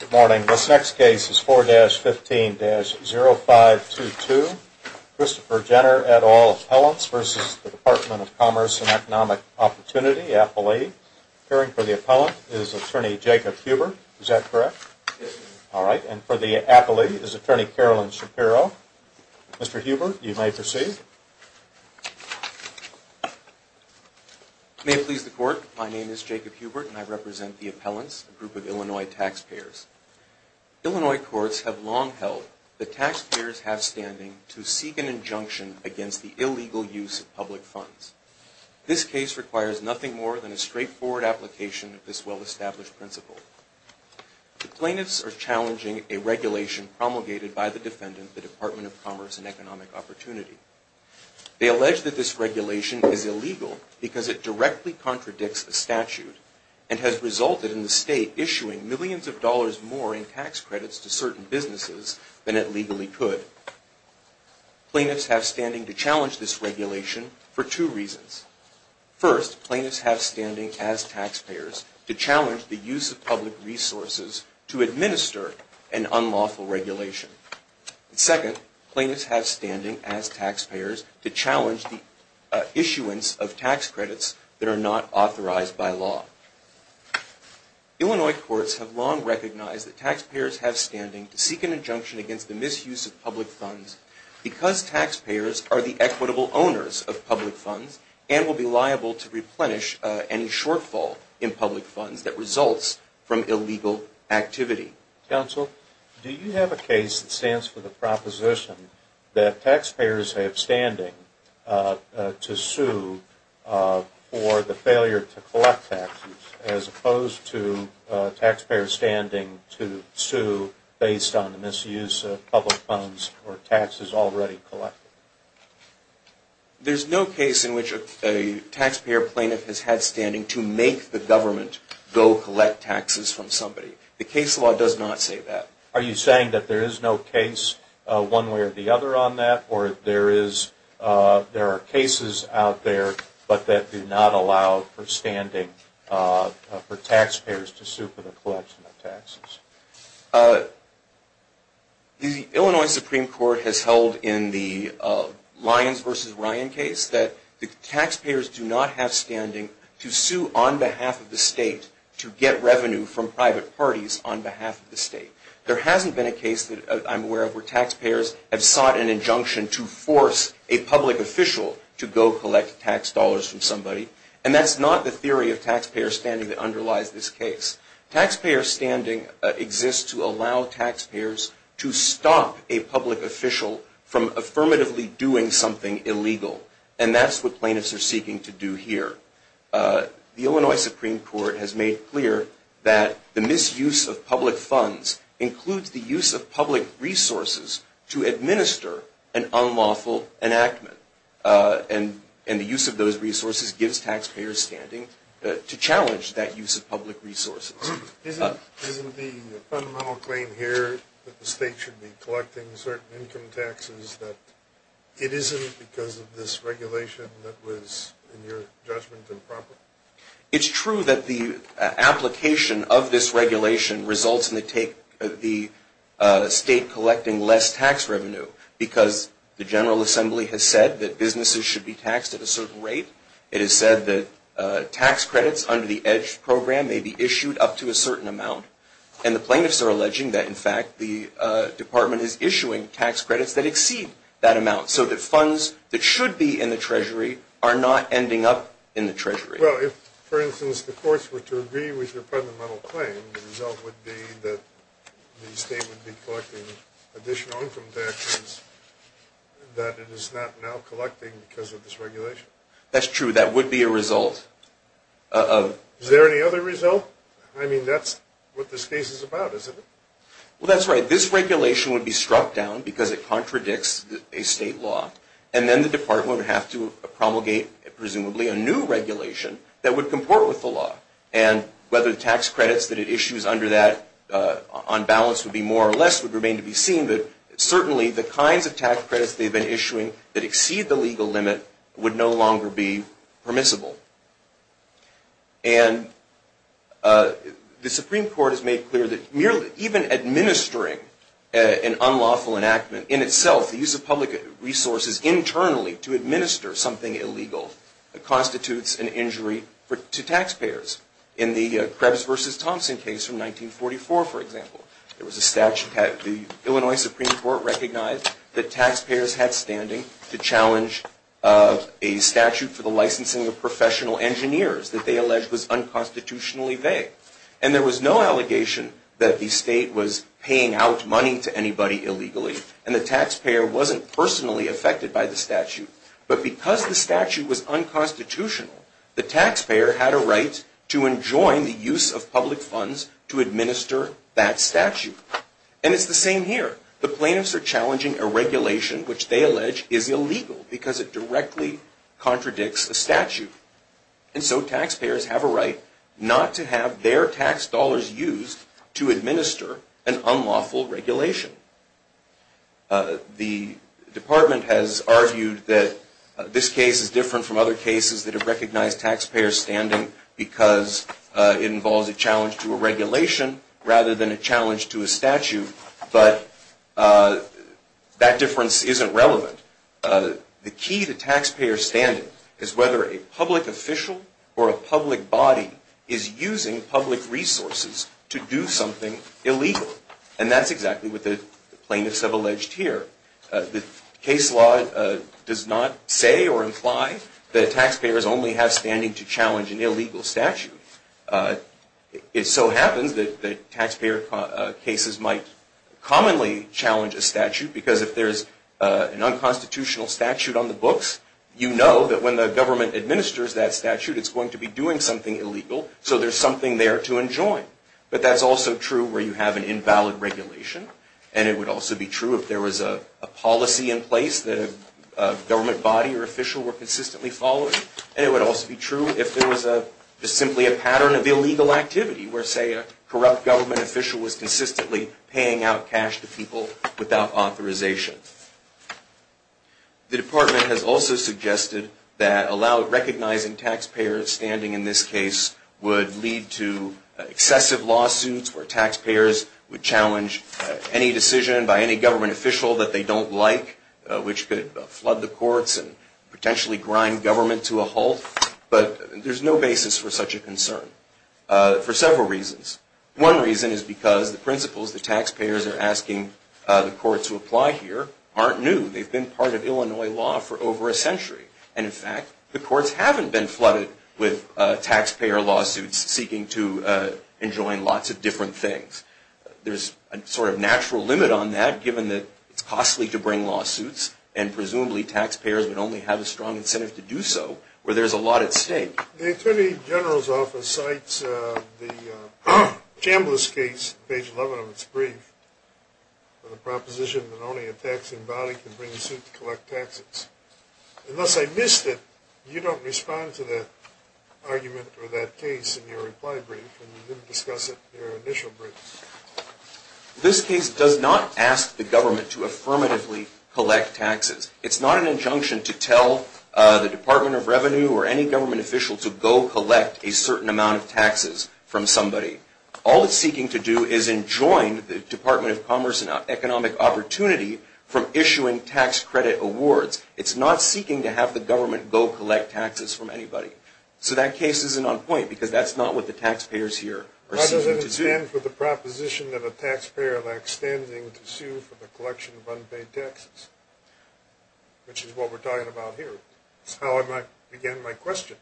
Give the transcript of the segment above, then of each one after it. Good morning. This next case is 4-15-0522. Christopher Jenner, et al., Appellants v. The Department of Commerce & Economic Opportunity, Appellee. Appearing for the Appellant is Attorney Jacob Hubert. Is that correct? Yes, sir. All right. And for the Appellee is Attorney Carolyn Shapiro. Mr. Hubert, you may proceed. May it please the Court, my name is Jacob Hubert and I represent the Appellants, a group of Illinois taxpayers. Illinois courts have long held that taxpayers have standing to seek an injunction against the illegal use of public funds. This case requires nothing more than a straightforward application of this well-established principle. The plaintiffs are challenging a regulation promulgated by the defendant, the Department of Commerce & Economic Opportunity. They allege that this regulation is illegal because it directly contradicts the statute and has resulted in the State issuing millions of dollars more in tax credits to certain businesses than it legally could. Plaintiffs have standing to challenge this regulation for two reasons. First, plaintiffs have standing as taxpayers to challenge the use of public resources to administer an unlawful regulation. Second, plaintiffs have standing as taxpayers to challenge the issuance of tax credits that are not authorized by law. Illinois courts have long recognized that taxpayers have standing to seek an injunction against the misuse of public funds because taxpayers are the equitable owners of public funds and will be liable to replenish any shortfall in public funds that results from illegal activity. Counsel, do you have a case that stands for the proposition that taxpayers have standing to sue for the failure to collect taxes as opposed to taxpayers standing to sue based on the misuse of public funds or taxes already collected? There's no case in which a taxpayer plaintiff has had standing to make the government go collect taxes from somebody. The case law does not say that. Are you saying that there is no case one way or the other on that? Or there are cases out there but that do not allow for standing for taxpayers to sue for the collection of taxes? The Illinois Supreme Court has held in the Lyons v. Ryan case that the taxpayers do not have standing to sue on behalf of the state to get revenue from private parties on behalf of the state. There hasn't been a case that I'm aware of where taxpayers have sought an injunction to force a public official to go collect tax dollars from somebody. And that's not the theory of taxpayer standing that underlies this case. Taxpayer standing exists to allow taxpayers to stop a public official from affirmatively doing something illegal. And that's what plaintiffs are seeking to do here. The Illinois Supreme Court has made clear that the misuse of public funds includes the use of public resources to administer an unlawful enactment. And the use of those resources gives taxpayers standing to challenge that use of public resources. Isn't the fundamental claim here that the state should be collecting certain income taxes that it isn't because of this regulation that was, in your judgment, improper? It's true that the application of this regulation results in the state collecting less tax revenue because the General Assembly has said that businesses should be taxed at a certain rate. It has said that tax credits under the EDGE program may be issued up to a certain amount. And the plaintiffs are alleging that, in fact, the Department is issuing tax credits that exceed that amount so that funds that should be in the Treasury are not ending up in the Treasury. Well, if, for instance, the courts were to agree with your fundamental claim, the result would be that the state would be collecting additional income taxes that it is not now collecting because of this regulation. That's true. That would be a result. Is there any other result? Well, I mean, that's what this case is about, isn't it? Well, that's right. This regulation would be struck down because it contradicts a state law. And then the Department would have to promulgate, presumably, a new regulation that would comport with the law. And whether the tax credits that it issues under that on balance would be more or less would remain to be seen, but certainly the kinds of tax credits they've been issuing that exceed the legal limit would no longer be permissible. And the Supreme Court has made clear that even administering an unlawful enactment in itself, the use of public resources internally to administer something illegal, constitutes an injury to taxpayers. In the Krebs v. Thompson case from 1944, for example, the Illinois Supreme Court recognized that taxpayers had standing to challenge a statute for the licensing of professional engineers that they alleged was unconstitutionally vague. And there was no allegation that the state was paying out money to anybody illegally, and the taxpayer wasn't personally affected by the statute. But because the statute was unconstitutional, the taxpayer had a right to enjoin the use of public funds to administer that statute. And it's the same here. The plaintiffs are challenging a regulation which they allege is illegal because it directly contradicts a statute. And so taxpayers have a right not to have their tax dollars used to administer an unlawful regulation. The department has argued that this case is different from other cases that have recognized taxpayer standing because it involves a challenge to a regulation rather than a challenge to a statute. But that difference isn't relevant. The key to taxpayer standing is whether a public official or a public body is using public resources to do something illegal. And that's exactly what the plaintiffs have alleged here. The case law does not say or imply that taxpayers only have standing to challenge an illegal statute. It so happens that taxpayer cases might commonly challenge a statute because if there's an unconstitutional statute on the books, you know that when the government administers that statute, it's going to be doing something illegal, so there's something there to enjoin. But that's also true where you have an invalid regulation. And it would also be true if there was a policy in place that a government body or official were consistently following. And it would also be true if there was simply a pattern of illegal activity where, say, a corrupt government official was consistently paying out cash to people without authorization. The Department has also suggested that recognizing taxpayer standing in this case would lead to excessive lawsuits where taxpayers would challenge any decision by any government official that they don't like, which could flood the courts and potentially grind government to a halt. But there's no basis for such a concern for several reasons. One reason is because the principles that taxpayers are asking the courts to apply here aren't new. They've been part of Illinois law for over a century. And, in fact, the courts haven't been flooded with taxpayer lawsuits seeking to enjoin lots of different things. There's a sort of natural limit on that given that it's costly to bring lawsuits, and presumably taxpayers would only have a strong incentive to do so where there's a lot at stake. The Attorney General's Office cites the Chambliss case, page 11 of its brief, with a proposition that only a taxing body can bring a suit to collect taxes. Unless I missed it, you don't respond to that argument or that case in your reply brief, and you didn't discuss it in your initial brief. This case does not ask the government to affirmatively collect taxes. It's not an injunction to tell the Department of Revenue or any government official to go collect a certain amount of taxes from somebody. All it's seeking to do is enjoin the Department of Commerce and Economic Opportunity from issuing tax credit awards. It's not seeking to have the government go collect taxes from anybody. So that case isn't on point because that's not what the taxpayers here are seeking to do. Why doesn't it stand for the proposition that a taxpayer lacks standing to sue for the collection of unpaid taxes, which is what we're talking about here? It's how I began my question.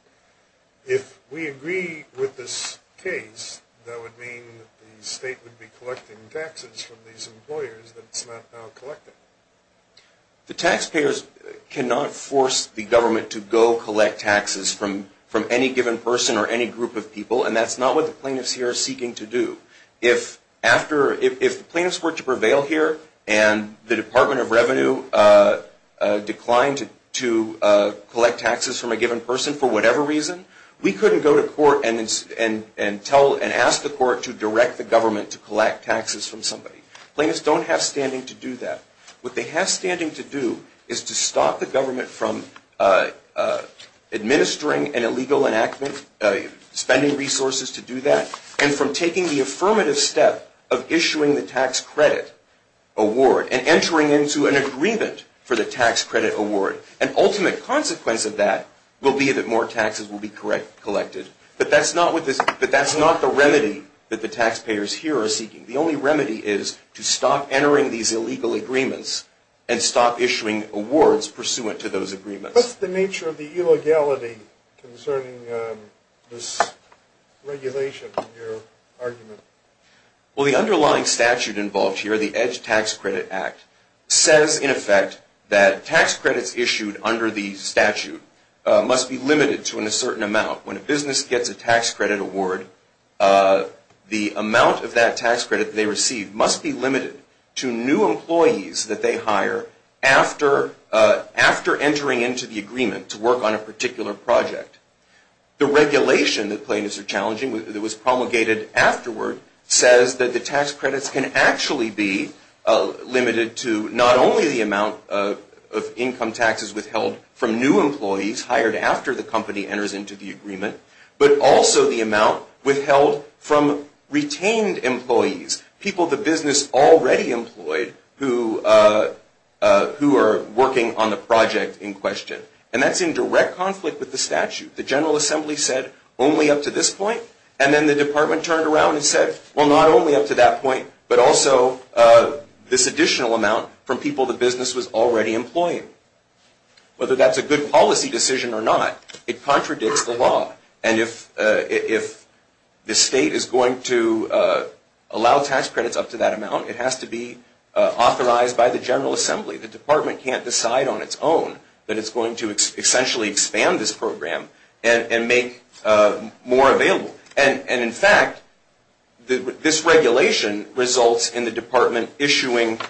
If we agree with this case, that would mean the state would be collecting taxes from these employers that it's not now collecting. The taxpayers cannot force the government to go collect taxes from any given person or any group of people, and that's not what the plaintiffs here are seeking to do. If the plaintiffs were to prevail here and the Department of Revenue declined to collect taxes from a given person for whatever reason, we couldn't go to court and ask the court to direct the government to collect taxes from somebody. Plaintiffs don't have standing to do that. What they have standing to do is to stop the government from administering an illegal enactment, spending resources to do that, and from taking the affirmative step of issuing the tax credit award and entering into an agreement for the tax credit award. An ultimate consequence of that will be that more taxes will be collected. But that's not the remedy that the taxpayers here are seeking. The only remedy is to stop entering these illegal agreements and stop issuing awards pursuant to those agreements. What's the nature of the illegality concerning this regulation in your argument? Well, the underlying statute involved here, the EDGE Tax Credit Act, says in effect that tax credits issued under the statute must be limited to a certain amount. When a business gets a tax credit award, the amount of that tax credit they receive must be limited to new employees that they hire after entering into the agreement to work on a particular project. The regulation that plaintiffs are challenging that was promulgated afterward says that the tax credits can actually be limited to not only the amount of income taxes withheld from new employees hired after the company enters into the agreement, but also the amount withheld from retained employees, people the business already employed, who are working on the project in question. And that's in direct conflict with the statute. The General Assembly said only up to this point, and then the Department turned around and said, well, not only up to that point, but also this additional amount from people the business was already employing. Whether that's a good policy decision or not, it contradicts the law. And if the state is going to allow tax credits up to that amount, it has to be authorized by the General Assembly. The Department can't decide on its own that it's going to essentially expand this program and make more available. And in fact, this regulation results in the Department issuing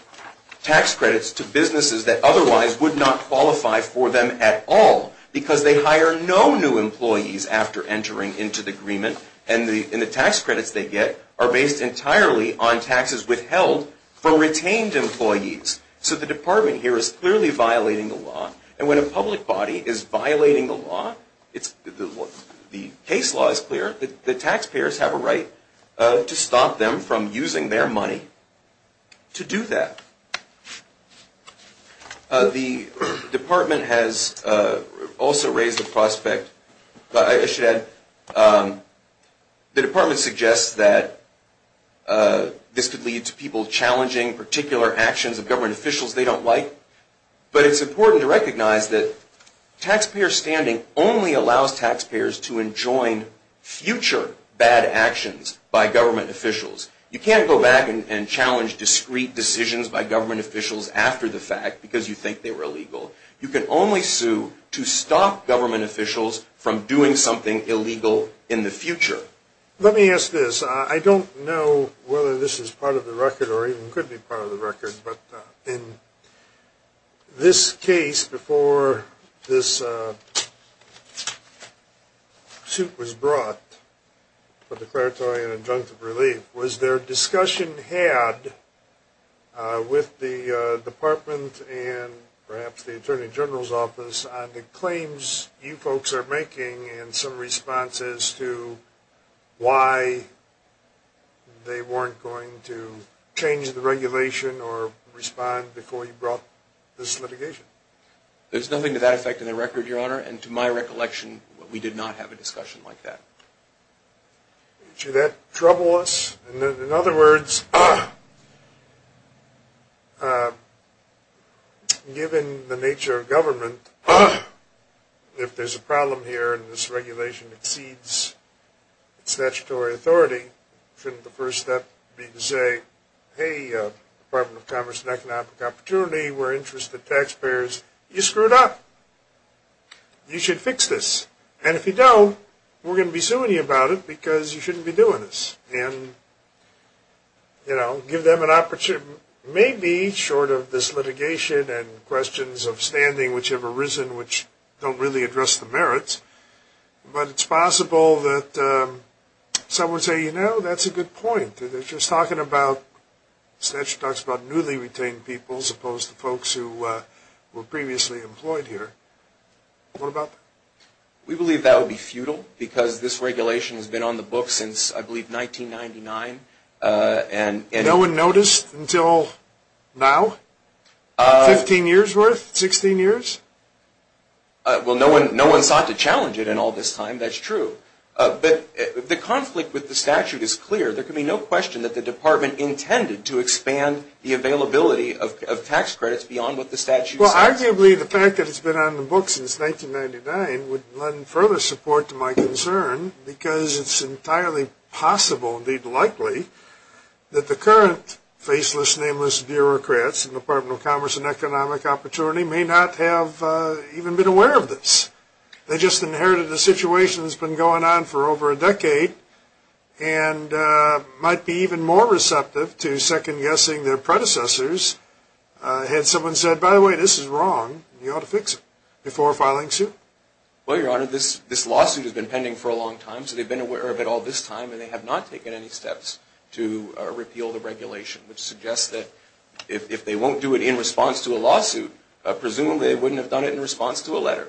tax credits to businesses that otherwise would not qualify for them at all, because they hire no new employees after entering into the agreement, and the tax credits they get are based entirely on taxes withheld from retained employees. So the Department here is clearly violating the law. And when a public body is violating the law, the case law is clear, the taxpayers have a right to stop them from using their money to do that. The Department has also raised the prospect, I should add, the Department suggests that this could lead to people challenging particular actions of government officials they don't like. But it's important to recognize that taxpayer standing only allows taxpayers to enjoin future bad actions by government officials. You can't go back and challenge discrete decisions by government officials after the fact because you think they were illegal. You can only sue to stop government officials from doing something illegal in the future. Let me ask this. I don't know whether this is part of the record or even could be part of the record, but in this case before this suit was brought for declaratory and injunctive relief, was there discussion had with the Department and perhaps the Attorney General's Office on the claims you folks are making and some responses to why they weren't going to change the regulation or respond before you brought this litigation? There's nothing to that effect in the record, Your Honor. And to my recollection, we did not have a discussion like that. Did that trouble us? In other words, given the nature of government, if there's a problem here and this regulation exceeds statutory authority, shouldn't the first step be to say, hey, Department of Commerce and Economic Opportunity, we're interested taxpayers. You screwed up. You should fix this. And if you don't, we're going to be suing you about it because you shouldn't be doing this. And, you know, give them an opportunity. Maybe short of this litigation and questions of standing which have arisen which don't really address the merits, but it's possible that someone would say, you know, that's a good point. They're just talking about newly retained people as opposed to folks who were previously employed here. What about that? We believe that would be futile because this regulation has been on the books since, I believe, 1999. No one noticed until now? Fifteen years' worth? Sixteen years? Well, no one sought to challenge it in all this time. That's true. But the conflict with the statute is clear. There can be no question that the department intended to expand the availability of tax credits beyond what the statute says. Well, arguably the fact that it's been on the books since 1999 would lend further support to my concern because it's entirely possible, indeed likely, that the current faceless, nameless bureaucrats in the Department of Commerce and Economic Opportunity may not have even been aware of this. They just inherited a situation that's been going on for over a decade and might be even more receptive to second-guessing their predecessors had someone said, by the way, this is wrong and you ought to fix it before filing suit. Well, Your Honor, this lawsuit has been pending for a long time, so they've been aware of it all this time and they have not taken any steps to repeal the regulation, which suggests that if they won't do it in response to a lawsuit, presumably they wouldn't have done it in response to a letter.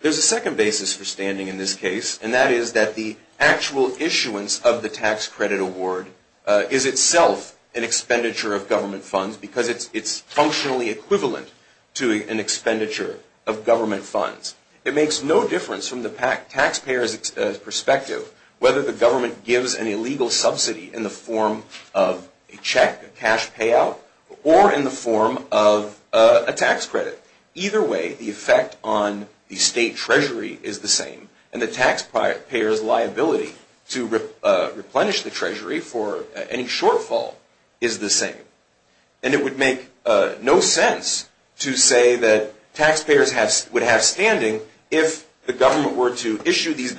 There's a second basis for standing in this case, and that is that the actual issuance of the tax credit award is itself an expenditure of government funds because it's functionally equivalent to an expenditure of government funds. It makes no difference from the taxpayer's perspective whether the government gives an illegal subsidy in the form of a check, a cash payout, or in the form of a tax credit. Either way, the effect on the state treasury is the same, and the taxpayer's liability to replenish the treasury for any shortfall is the same. And it would make no sense to say that taxpayers would have standing if the government were to collect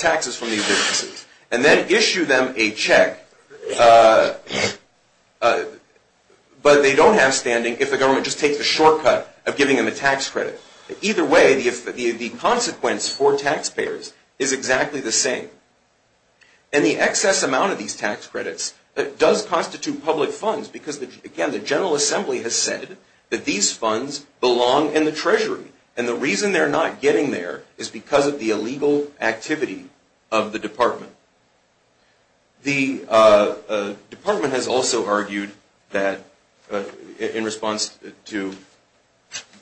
taxes from these businesses and then issue them a check, but they don't have standing if the government just takes the shortcut of giving them a tax credit. Either way, the consequence for taxpayers is exactly the same. And the excess amount of these tax credits does constitute public funds because, again, the General Assembly has said that these funds belong in the treasury, and the reason they're not getting there is because of the illegal activity of the department. The department has also argued that, in response to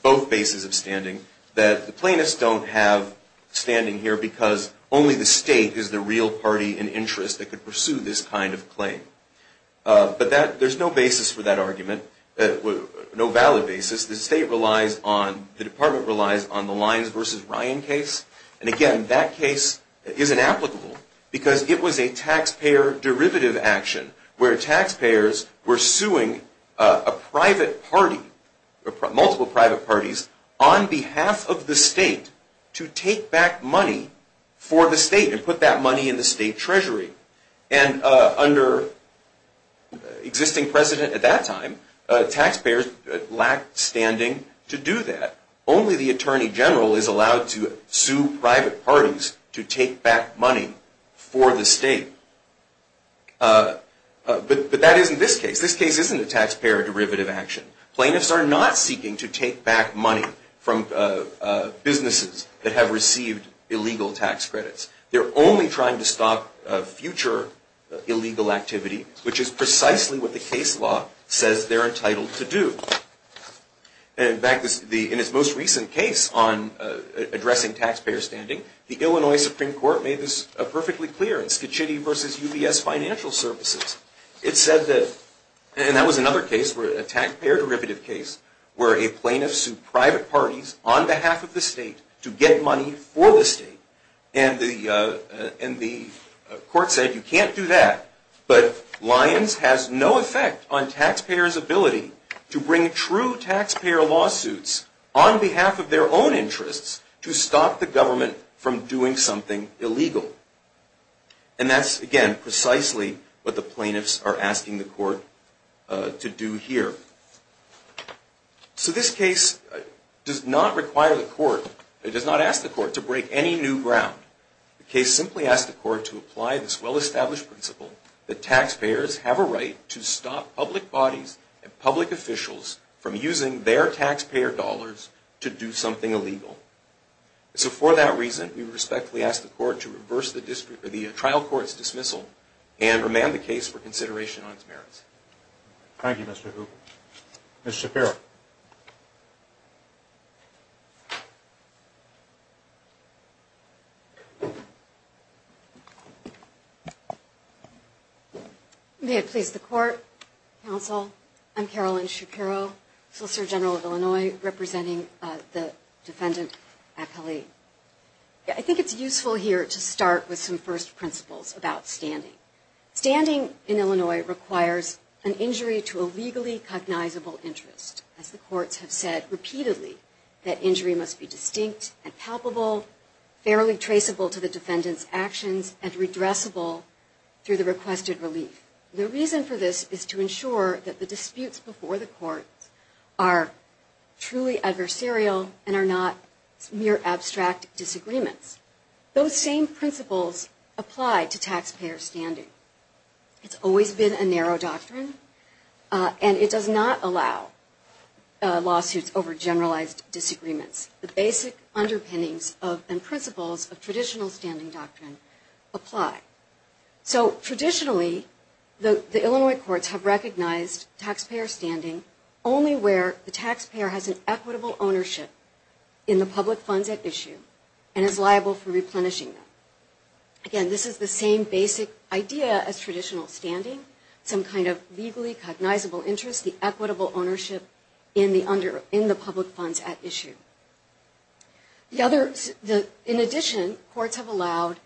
both bases of standing, that the plaintiffs don't have standing here because only the state is the real party in interest that could pursue this kind of claim. But there's no basis for that argument, no valid basis. The state relies on, the department relies on the Lyons v. Ryan case, and, again, that case is inapplicable because it was a taxpayer derivative action where taxpayers were suing a private party, multiple private parties, on behalf of the state to take back money for the state and put that money in the state treasury. And under existing precedent at that time, taxpayers lacked standing to do that. Only the Attorney General is allowed to sue private parties to take back money for the state. But that isn't this case. This case isn't a taxpayer derivative action. Plaintiffs are not seeking to take back money from businesses that have received illegal tax credits. They're only trying to stop future illegal activity, which is precisely what the case law says they're entitled to do. In fact, in its most recent case on addressing taxpayer standing, the Illinois Supreme Court made this perfectly clear in Schicitti v. UBS Financial Services. It said that, and that was another case, a taxpayer derivative case, where a plaintiff sued private parties on behalf of the state to get money for the state. And the court said, you can't do that. But Lyons has no effect on taxpayers' ability to bring true taxpayer lawsuits on behalf of their own interests to stop the government from doing something illegal. And that's, again, precisely what the plaintiffs are asking the court to do here. So this case does not require the court, it does not ask the court to break any new ground. The case simply asks the court to apply this well-established principle that taxpayers have a right to stop public bodies and public officials from using their taxpayer dollars to do something illegal. So for that reason, we respectfully ask the court to reverse the trial court's dismissal and remand the case for consideration on its merits. Thank you, Mr. Hoop. Ms. Shapiro. May it please the court, counsel, I'm Carolyn Shapiro, Solicitor General of Illinois, representing the defendant, Akali. I think it's useful here to start with some first principles about standing. Standing in Illinois requires an injury to a legally cognizable interest. As the courts have said repeatedly, that injury must be distinct and palpable, fairly traceable to the defendant's actions, and redressable through the requested relief. The reason for this is to ensure that the disputes before the court are truly adversarial and are not mere abstract disagreements. Those same principles apply to taxpayer standing. It's always been a narrow doctrine, and it does not allow lawsuits over generalized disagreements. The basic underpinnings and principles of traditional standing doctrine apply. So traditionally, the Illinois courts have recognized taxpayer standing only where the taxpayer has an equitable ownership in the public funds at issue and is liable for replenishing them. Again, this is the same basic idea as traditional standing, some kind of legally cognizable interest, the equitable ownership in the public funds at issue. In addition, courts have allowed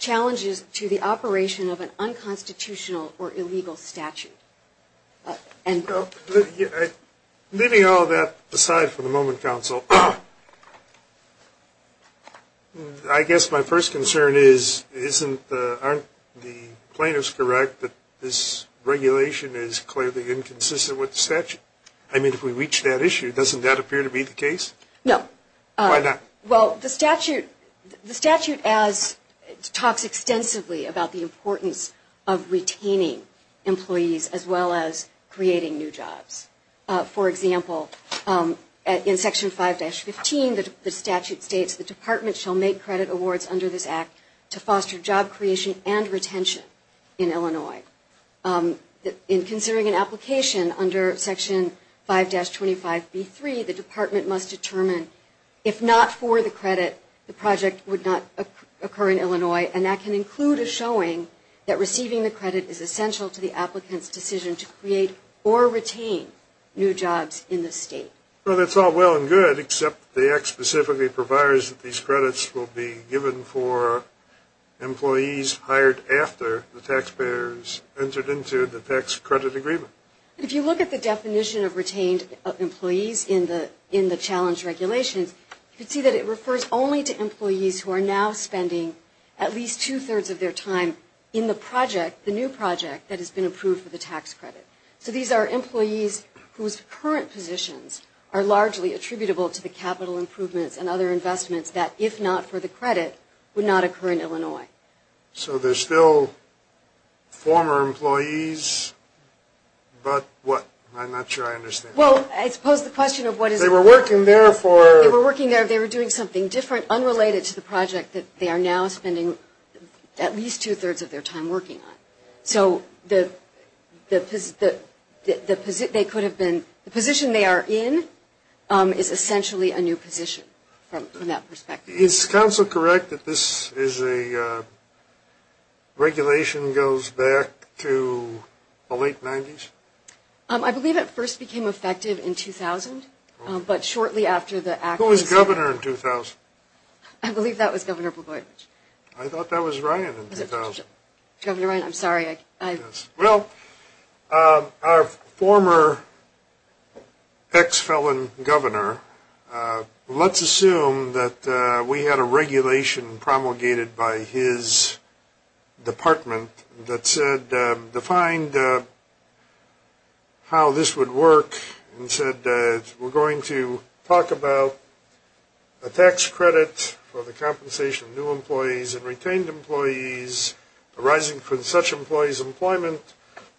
challenges to the operation of an unconstitutional or illegal statute. End quote. Leaving all that aside for the moment, counsel, I guess my first concern is, aren't the plaintiffs correct that this regulation is clearly inconsistent with the statute? I mean, if we reach that issue, doesn't that appear to be the case? No. Why not? Well, the statute talks extensively about the importance of retaining employees as well as creating new jobs. For example, in Section 5-15, the statute states, the department shall make credit awards under this act to foster job creation and retention in Illinois. In considering an application under Section 5-25B3, the department must determine if not for the credit, the project would not occur in Illinois, and that can include a showing that receiving the credit is essential to the applicant's decision to create or retain new jobs in the state. Well, that's all well and good, except the act specifically provides that these credits will be given for employees hired after the taxpayer's entered into the tax credit agreement. If you look at the definition of retained employees in the challenge regulations, you can see that it refers only to employees who are now spending at least two-thirds of their time in the project, the new project, that has been approved for the tax credit. So these are employees whose current positions are largely attributable to the capital improvements and other investments that, if not for the credit, would not occur in Illinois. So they're still former employees, but what? I'm not sure I understand. Well, I suppose the question of what is... They were working there for... They were working there, they were doing something different, unrelated to the project that they are now spending at least two-thirds of their time working on. So the position they are in is essentially a new position from that perspective. Is counsel correct that this is a regulation that goes back to the late 90s? I believe it first became effective in 2000, but shortly after the act was... Who was governor in 2000? I believe that was Governor Blagojevich. I thought that was Ryan in 2000. Governor Ryan, I'm sorry. Well, our former ex-felon governor, let's assume that we had a regulation promulgated by his department that said, defined how this would work and said, we're going to talk about a tax credit for the compensation of new employees and retained employees arising from such employees' employment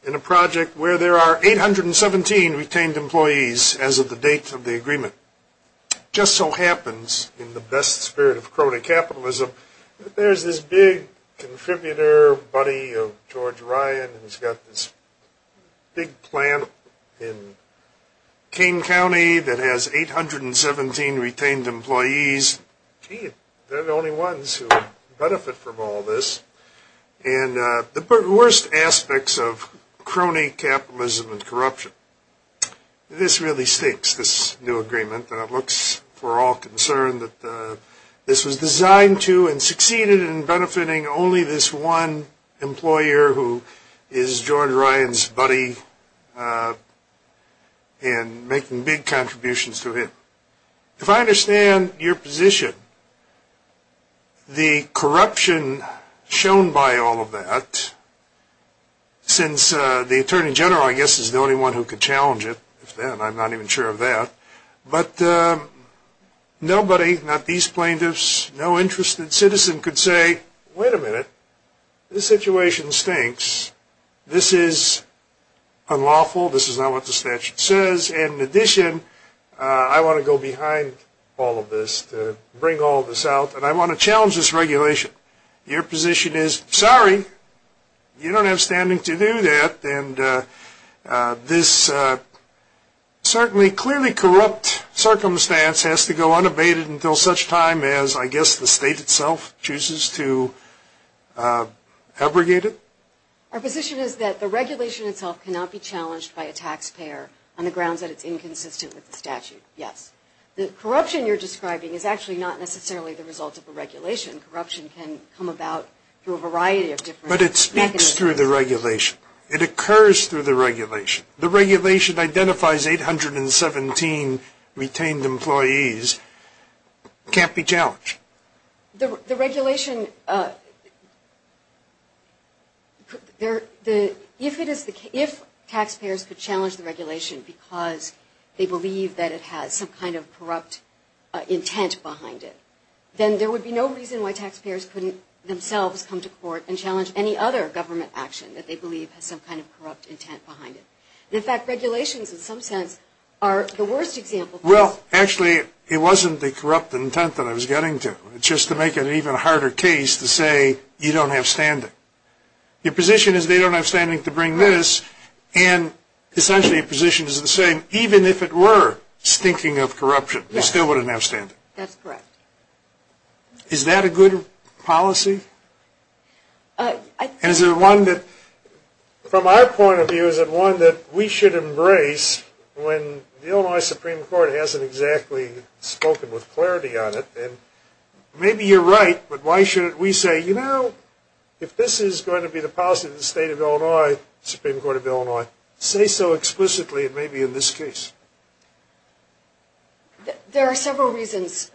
in a project where there are 817 retained employees as of the date of the agreement. It just so happens, in the best spirit of crony capitalism, that there's this big contributor, buddy of George Ryan, who's got this big plant in Kane County that has 817 retained employees. They're the only ones who benefit from all this, and the worst aspects of crony capitalism and corruption. This really stakes this new agreement, and it looks for all concerned that this was designed to and succeeded in benefiting only this one employer who is George Ryan's buddy and making big contributions to him. If I understand your position, the corruption shown by all of that, since the attorney general, I guess, is the only one who could challenge it, and I'm not even sure of that, but nobody, not these plaintiffs, no interested citizen could say, wait a minute, this situation stinks. This is unlawful. This is not what the statute says. In addition, I want to go behind all of this to bring all of this out, and I want to challenge this regulation. Your position is, sorry, you don't have standing to do that, and this certainly clearly corrupt circumstance has to go unabated until such time as, I guess, the state itself chooses to abrogate it? Our position is that the regulation itself cannot be challenged by a taxpayer on the grounds that it's inconsistent with the statute, yes. The corruption you're describing is actually not necessarily the result of a regulation. Corruption can come about through a variety of different mechanisms. But it speaks through the regulation. It occurs through the regulation. The regulation identifies 817 retained employees. It can't be challenged. The regulation, if taxpayers could challenge the regulation because they believe that it has some kind of corrupt intent behind it, then there would be no reason why taxpayers couldn't themselves come to court and challenge any other government action that they believe has some kind of corrupt intent behind it. In fact, regulations, in some sense, are the worst example. Well, actually, it wasn't the corrupt intent that I was getting to. It's just to make it an even harder case to say you don't have standing. Your position is they don't have standing to bring this, and essentially your position is the same. Even if it were stinking of corruption, you still wouldn't have standing. That's correct. Is that a good policy? Is it one that, from our point of view, is it one that we should embrace when the Illinois Supreme Court hasn't exactly spoken with clarity on it? And maybe you're right, but why shouldn't we say, you know, if this is going to be the policy of the state of Illinois, Supreme Court of Illinois, say so explicitly, and maybe in this case. There are several reasons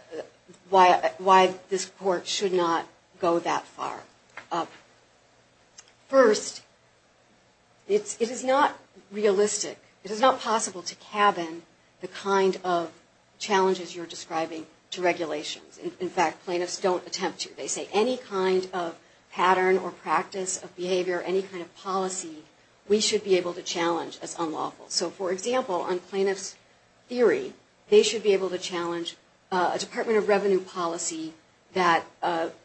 why this court should not go that far. First, it is not realistic. It is not possible to cabin the kind of challenges you're describing to regulations. In fact, plaintiffs don't attempt to. They say any kind of pattern or practice of behavior, any kind of policy, we should be able to challenge as unlawful. So, for example, on plaintiff's theory, they should be able to challenge a Department of Revenue policy that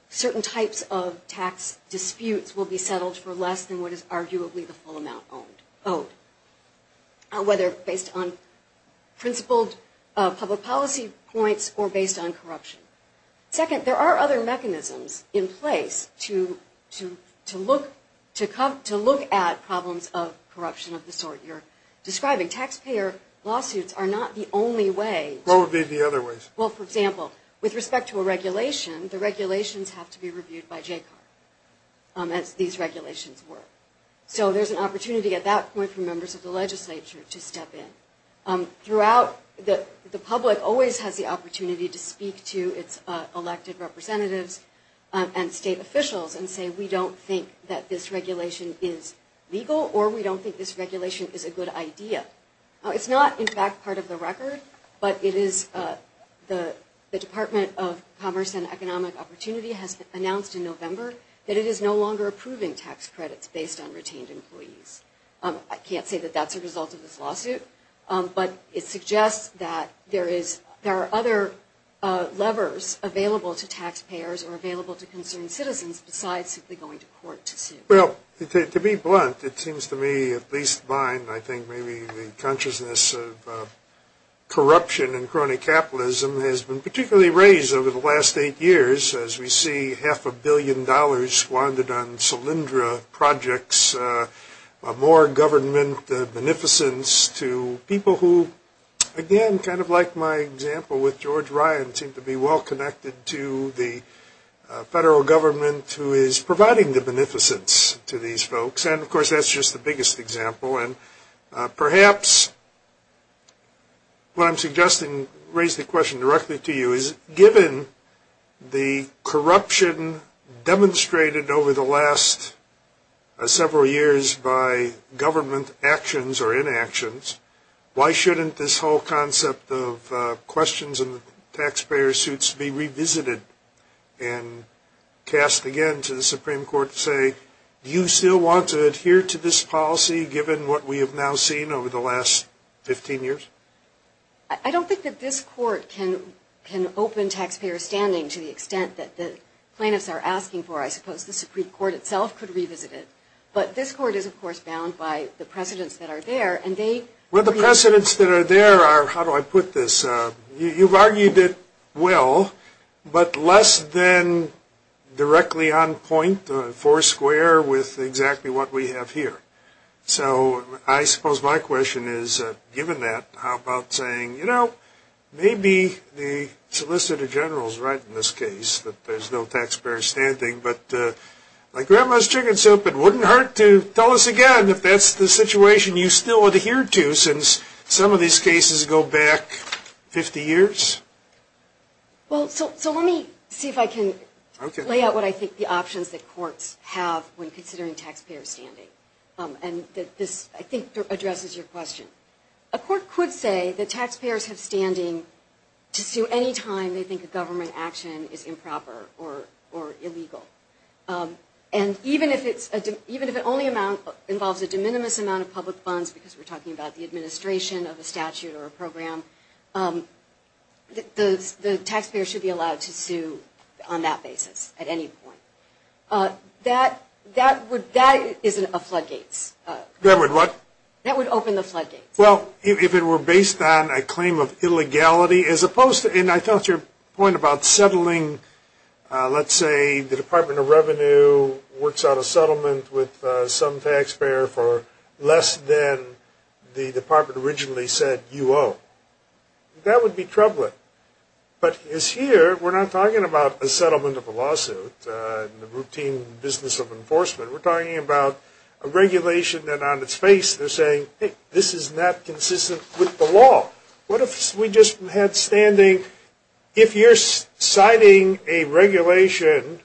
certain types of tax disputes will be settled for less than what is arguably the full amount owed, whether based on principled public policy points or based on corruption. Second, there are other mechanisms in place to look at problems of corruption of the sort you're describing. Taxpayer lawsuits are not the only way. What would be the other ways? Well, for example, with respect to a regulation, the regulations have to be reviewed by JCCAR, as these regulations work. So there's an opportunity at that point for members of the legislature to step in. Throughout, the public always has the opportunity to speak to its elected representatives and state officials and say we don't think that this regulation is legal or we don't think this regulation is a good idea. It's not, in fact, part of the record, but the Department of Commerce and Economic Opportunity has announced in November that it is no longer approving tax credits based on retained employees. I can't say that that's a result of this lawsuit, but it suggests that there are other levers available to taxpayers or available to concerned citizens besides simply going to court to sue. Well, to be blunt, it seems to me, at least mine, I think maybe the consciousness of corruption and crony capitalism has been particularly raised over the last eight years as we see half a billion dollars squandered on Solyndra projects, more government beneficence to people who, again, kind of like my example with George Ryan, seem to be well connected to the federal government who is providing the beneficence to these folks. And, of course, that's just the biggest example. And perhaps what I'm suggesting, raise the question directly to you, is given the corruption demonstrated over the last several years by government actions or inactions, why shouldn't this whole concept of questions in the taxpayer suits be revisited and cast again to the Supreme Court to say, do you still want to adhere to this policy given what we have now seen over the last 15 years? I don't think that this court can open taxpayer standing to the extent that the plaintiffs are asking for. I suppose the Supreme Court itself could revisit it. But this court is, of course, bound by the precedents that are there, and they – Well, the precedents that are there are – how do I put this? You've argued it well, but less than directly on point, four square, with exactly what we have here. So I suppose my question is, given that, how about saying, you know, maybe the Solicitor General is right in this case that there's no taxpayer standing, but like grandma's chicken soup, it wouldn't hurt to tell us again if that's the situation you still adhere to since some of these cases go back 50 years? Well, so let me see if I can lay out what I think the options that courts have when considering taxpayer standing. And this, I think, addresses your question. A court could say that taxpayers have standing to sue any time they think a government action is improper or illegal. And even if it only involves a de minimis amount of public funds, because we're talking about the administration of a statute or a program, the taxpayer should be allowed to sue on that basis at any point. That is a floodgate. That would what? That would open the floodgates. Well, if it were based on a claim of illegality, as opposed to – the Department of Revenue works out a settlement with some taxpayer for less than the department originally said you owe, that would be troubling. But here, we're not talking about a settlement of a lawsuit in the routine business of enforcement. We're talking about a regulation that on its face they're saying, hey, this is not consistent with the law. What if we just had standing – if you're citing a regulation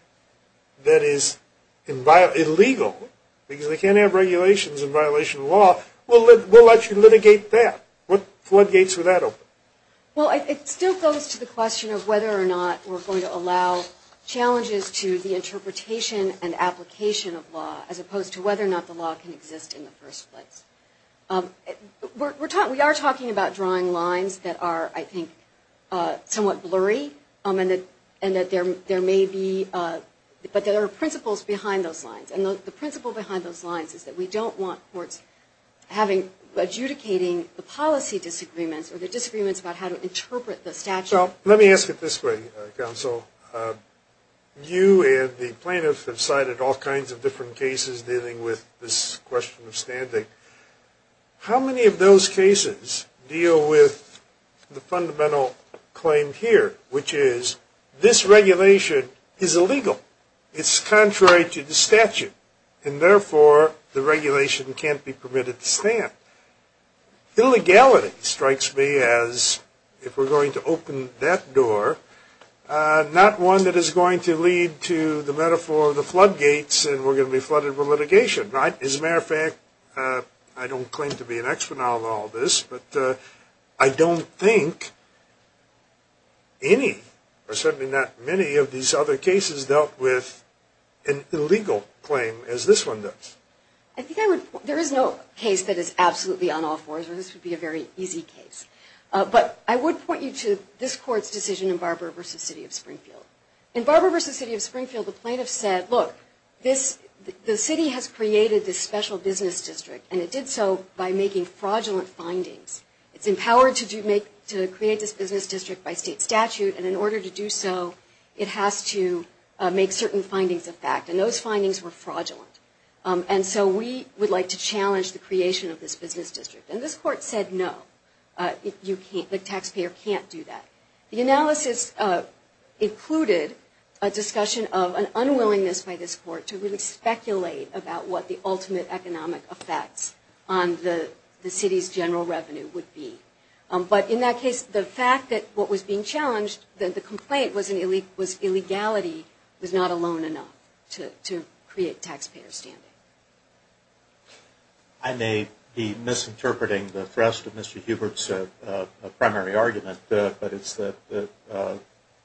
that is illegal, because they can't have regulations in violation of law, we'll let you litigate that. What floodgates would that open? Well, it still goes to the question of whether or not we're going to allow challenges to the interpretation and application of law, as opposed to whether or not the law can exist in the first place. We are talking about drawing lines that are, I think, somewhat blurry, and that there may be – but there are principles behind those lines. And the principle behind those lines is that we don't want courts having – adjudicating the policy disagreements or the disagreements about how to interpret the statute. Let me ask it this way, counsel. You and the plaintiffs have cited all kinds of different cases dealing with this question of standing. How many of those cases deal with the fundamental claim here, which is this regulation is illegal? It's contrary to the statute, and therefore the regulation can't be permitted to stand. Illegality strikes me as, if we're going to open that door, not one that is going to lead to the metaphor of the floodgates and we're going to be flooded with litigation. As a matter of fact, I don't claim to be an exponent of all this, but I don't think any or certainly not many of these other cases dealt with an illegal claim as this one does. There is no case that is absolutely on all fours, or this would be a very easy case. But I would point you to this Court's decision in Barber v. City of Springfield. In Barber v. City of Springfield, the plaintiffs said, look, the city has created this special business district, and it did so by making fraudulent findings. It's empowered to create this business district by state statute, and in order to do so, it has to make certain findings a fact. And those findings were fraudulent. And so we would like to challenge the creation of this business district. And this Court said, no, the taxpayer can't do that. The analysis included a discussion of an unwillingness by this Court to really speculate about what the ultimate economic effects on the city's general revenue would be. But in that case, the fact that what was being challenged, that the complaint was illegality, was not alone enough to create taxpayer standing. I may be misinterpreting the thrust of Mr. Hubert's primary argument, but it's that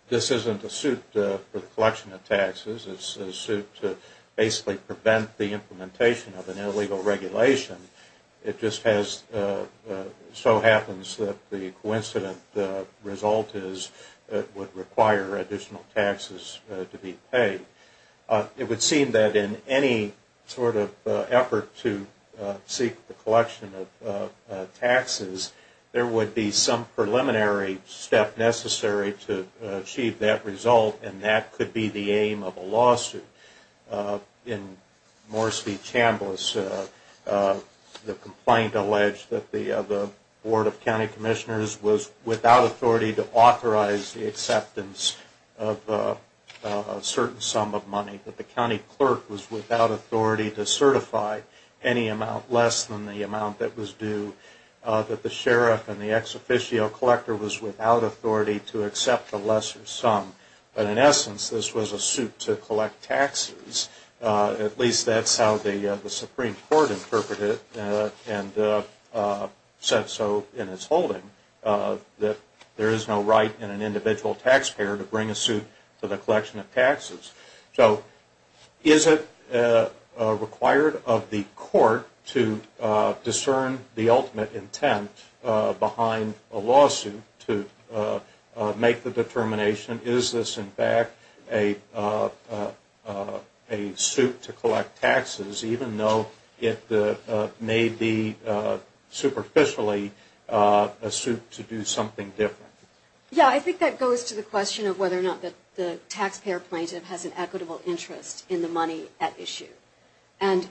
this isn't a suit for the collection of taxes. It's a suit to basically prevent the implementation of an illegal regulation. It just so happens that the coincident result is it would require additional taxes to be paid. It would seem that in any sort of effort to seek the collection of taxes, there would be some preliminary step necessary to achieve that result, and that could be the aim of a lawsuit. In Morris v. Chambliss, the complaint alleged that the Board of County Commissioners was without authority to authorize the acceptance of a certain sum of money, that the county clerk was without authority to certify any amount less than the amount that was due, that the sheriff and the ex-officio collector was without authority to accept a lesser sum. But in essence, this was a suit to collect taxes. At least that's how the Supreme Court interpreted it and said so in its holding, that there is no right in an individual taxpayer to bring a suit to the collection of taxes. So is it required of the court to discern the ultimate intent behind a lawsuit to make the determination? Is this in fact a suit to collect taxes, even though it may be superficially a suit to do something different? Yeah, I think that goes to the question of whether or not the taxpayer plaintiff has an equitable interest in the money at issue. And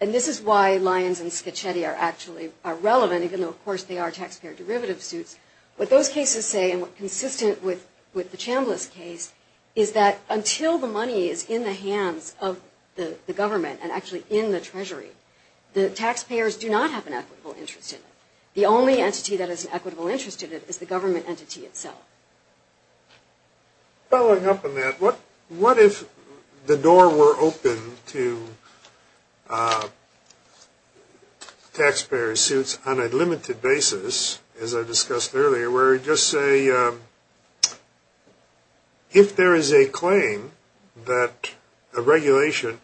this is why Lyons and Schicchetti are actually relevant, even though of course they are taxpayer derivative suits. What those cases say, and what's consistent with the Chambliss case, is that until the money is in the hands of the government and actually in the Treasury, the taxpayers do not have an equitable interest in it. The only entity that has an equitable interest in it is the government entity itself. Following up on that, what if the door were open to taxpayer suits on a limited basis, as I discussed earlier, where just say if there is a claim that the regulation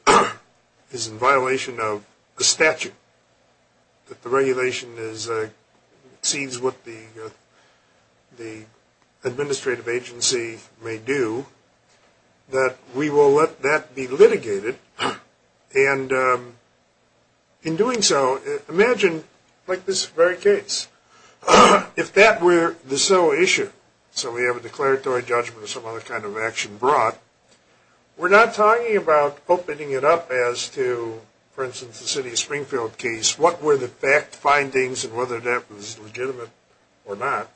is in violation of the statute, that the regulation exceeds what the administrative agency may do, that we will let that be litigated. And in doing so, imagine like this very case, if that were the sole issue, so we have a declaratory judgment or some other kind of action brought, we're not talking about opening it up as to, for instance, the city of Springfield case, what were the fact findings and whether that was legitimate or not.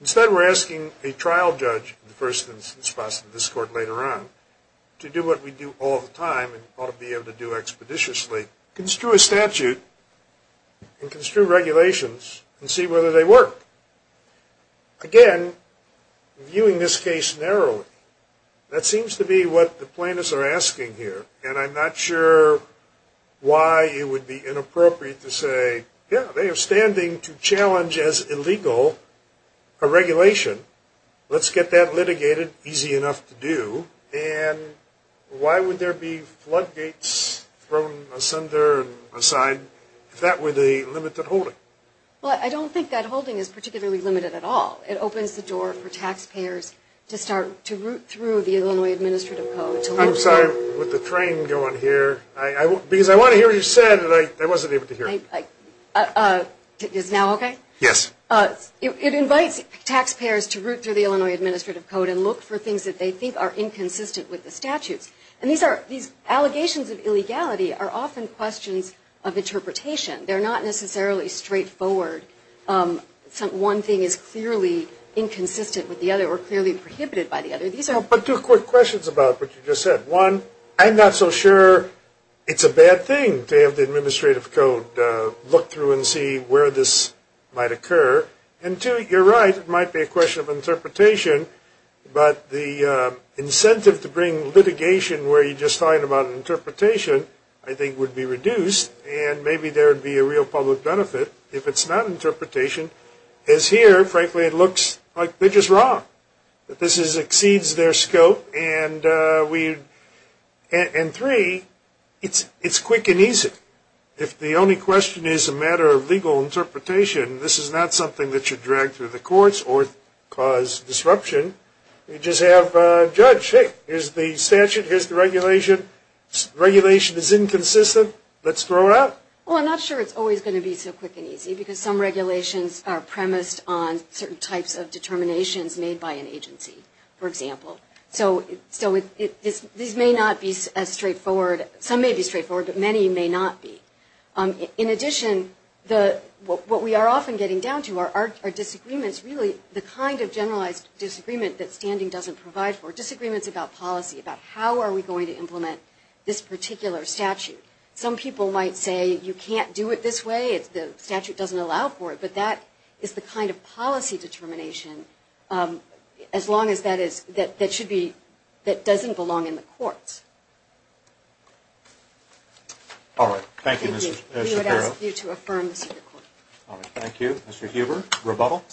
Instead we're asking a trial judge, the first instance possibly this court later on, to do what we do all the time and ought to be able to do expeditiously, construe a statute and construe regulations and see whether they work. Again, viewing this case narrowly, that seems to be what the plaintiffs are asking here. And I'm not sure why it would be inappropriate to say, yeah, they are standing to challenge as illegal a regulation. Let's get that litigated, easy enough to do. And why would there be floodgates thrown asunder and aside if that were the limited holding? Well, I don't think that holding is particularly limited at all. It opens the door for taxpayers to start to root through the Illinois Administrative Code. I'm sorry, with the train going here, because I want to hear what you said that I wasn't able to hear. Is now okay? Yes. It invites taxpayers to root through the Illinois Administrative Code and look for things that they think are inconsistent with the statutes. And these allegations of illegality are often questions of interpretation. They're not necessarily straightforward. One thing is clearly inconsistent with the other or clearly prohibited by the other. But two quick questions about what you just said. One, I'm not so sure it's a bad thing to have the Administrative Code look through and see where this might occur. And two, you're right, it might be a question of interpretation, but the incentive to bring litigation where you're just talking about interpretation I think would be reduced, and maybe there would be a real public benefit if it's not interpretation. Because here, frankly, it looks like they're just wrong, that this exceeds their scope. And three, it's quick and easy. If the only question is a matter of legal interpretation, this is not something that should drag through the courts or cause disruption. You just have a judge, hey, here's the statute, here's the regulation. Regulation is inconsistent. Let's throw it out. Well, I'm not sure it's always going to be so quick and easy, because some regulations are premised on certain types of determinations made by an agency, for example. So these may not be as straightforward. Some may be straightforward, but many may not be. In addition, what we are often getting down to are disagreements, really the kind of generalized disagreement that standing doesn't provide for, disagreements about policy, about how are we going to implement this particular statute. Some people might say you can't do it this way, the statute doesn't allow for it, but that is the kind of policy determination that doesn't belong in the courts. All right. Thank you, Ms. Shapiro. We would ask you to affirm the secret court. All right. Thank you. Mr. Huber, rebuttal.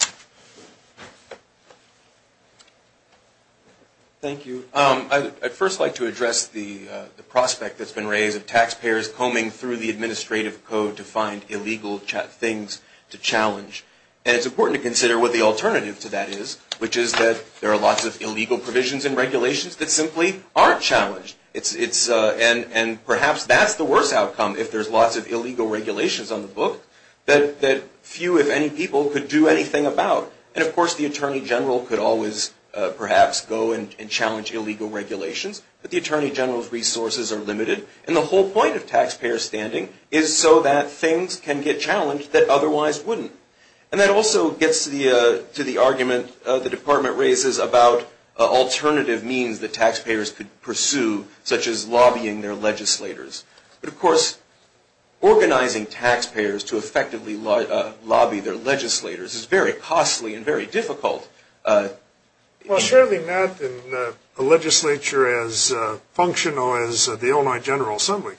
Thank you. I'd first like to address the prospect that's been raised of taxpayers combing through the administrative code to find illegal things to challenge. And it's important to consider what the alternative to that is, which is that there are lots of illegal provisions and regulations that simply aren't challenged. And perhaps that's the worst outcome, if there's lots of illegal regulations on the book, that few, if any, people could do anything about. And, of course, the Attorney General could always perhaps go and challenge illegal regulations, but the Attorney General's resources are limited, and the whole point of taxpayer standing is so that things can get challenged that otherwise wouldn't. And that also gets to the argument the Department raises about alternative means that taxpayers could pursue, such as lobbying their legislators. But, of course, organizing taxpayers to effectively lobby their legislators is very costly and very difficult. Well, certainly not in a legislature as functional as the Illinois General Assembly.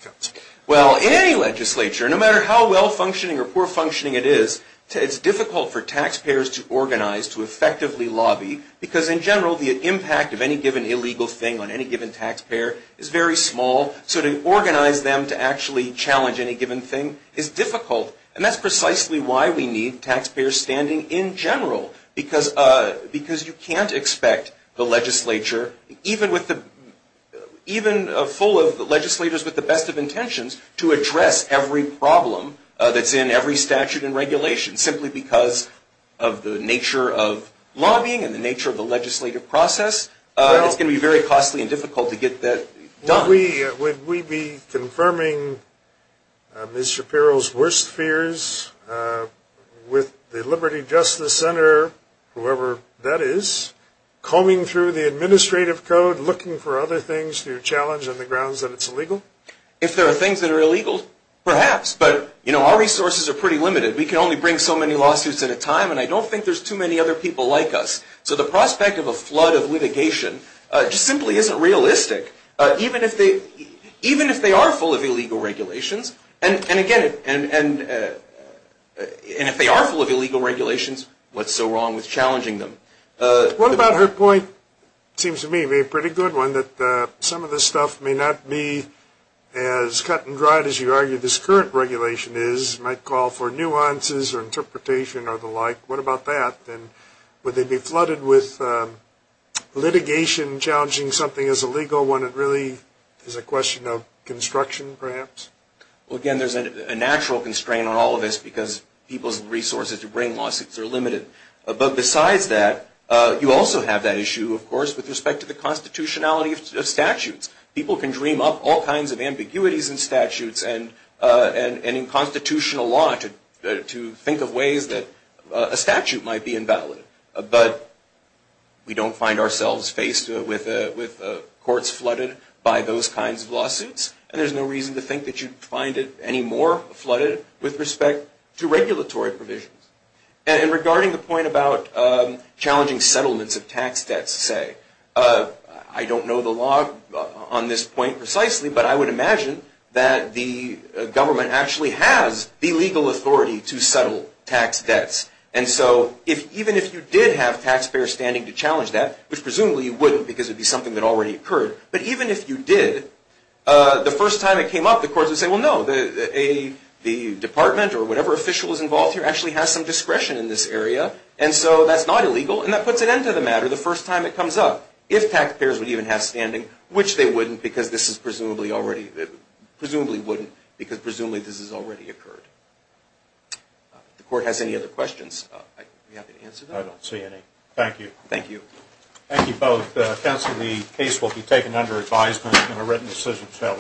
Well, in any legislature, no matter how well-functioning or poor-functioning it is, it's difficult for taxpayers to organize to effectively lobby because, in general, the impact of any given illegal thing on any given taxpayer is very small. So to organize them to actually challenge any given thing is difficult. And that's precisely why we need taxpayer standing in general, because you can't expect the legislature, even full of legislators with the best of intentions, to address every problem that's in every statute and regulation, simply because of the nature of lobbying and the nature of the legislative process. It's going to be very costly and difficult to get that done. Would we be confirming Ms. Shapiro's worst fears with the Liberty Justice Center, whoever that is, combing through the administrative code, looking for other things to challenge on the grounds that it's illegal? If there are things that are illegal, perhaps. But, you know, our resources are pretty limited. We can only bring so many lawsuits at a time, and I don't think there's too many other people like us. So the prospect of a flood of litigation just simply isn't realistic. Even if they are full of illegal regulations, and, again, if they are full of illegal regulations, what's so wrong with challenging them? What about her point? It seems to me a pretty good one, that some of this stuff may not be as cut and dried as you argue this current regulation is. It might call for nuances or interpretation or the like. What about that? Would they be flooded with litigation challenging something as illegal when it really is a question of construction, perhaps? Well, again, there's a natural constraint on all of this because people's resources to bring lawsuits are limited. But besides that, you also have that issue, of course, with respect to the constitutionality of statutes. People can dream up all kinds of ambiguities in statutes and in constitutional law to think of ways that a statute might be invalid. But we don't find ourselves faced with courts flooded by those kinds of lawsuits, and there's no reason to think that you'd find it any more flooded with respect to regulatory provisions. And regarding the point about challenging settlements of tax debts, say, I don't know the law on this point precisely, but I would imagine that the government actually has the legal authority to settle tax debts. And so even if you did have taxpayers standing to challenge that, which presumably you wouldn't because it would be something that already occurred, but even if you did, the first time it came up, the courts would say, well, no, the department or whatever official is involved here actually has some discretion in this area, and so that's not illegal, and that puts an end to the matter the first time it comes up. If taxpayers would even have standing, which they wouldn't because this is presumably already, presumably wouldn't because presumably this has already occurred. If the court has any other questions, I'd be happy to answer them. I don't see any. Thank you. Thank you. Thank you both. Counsel, the case will be taken under advisement and a written decision shall issue.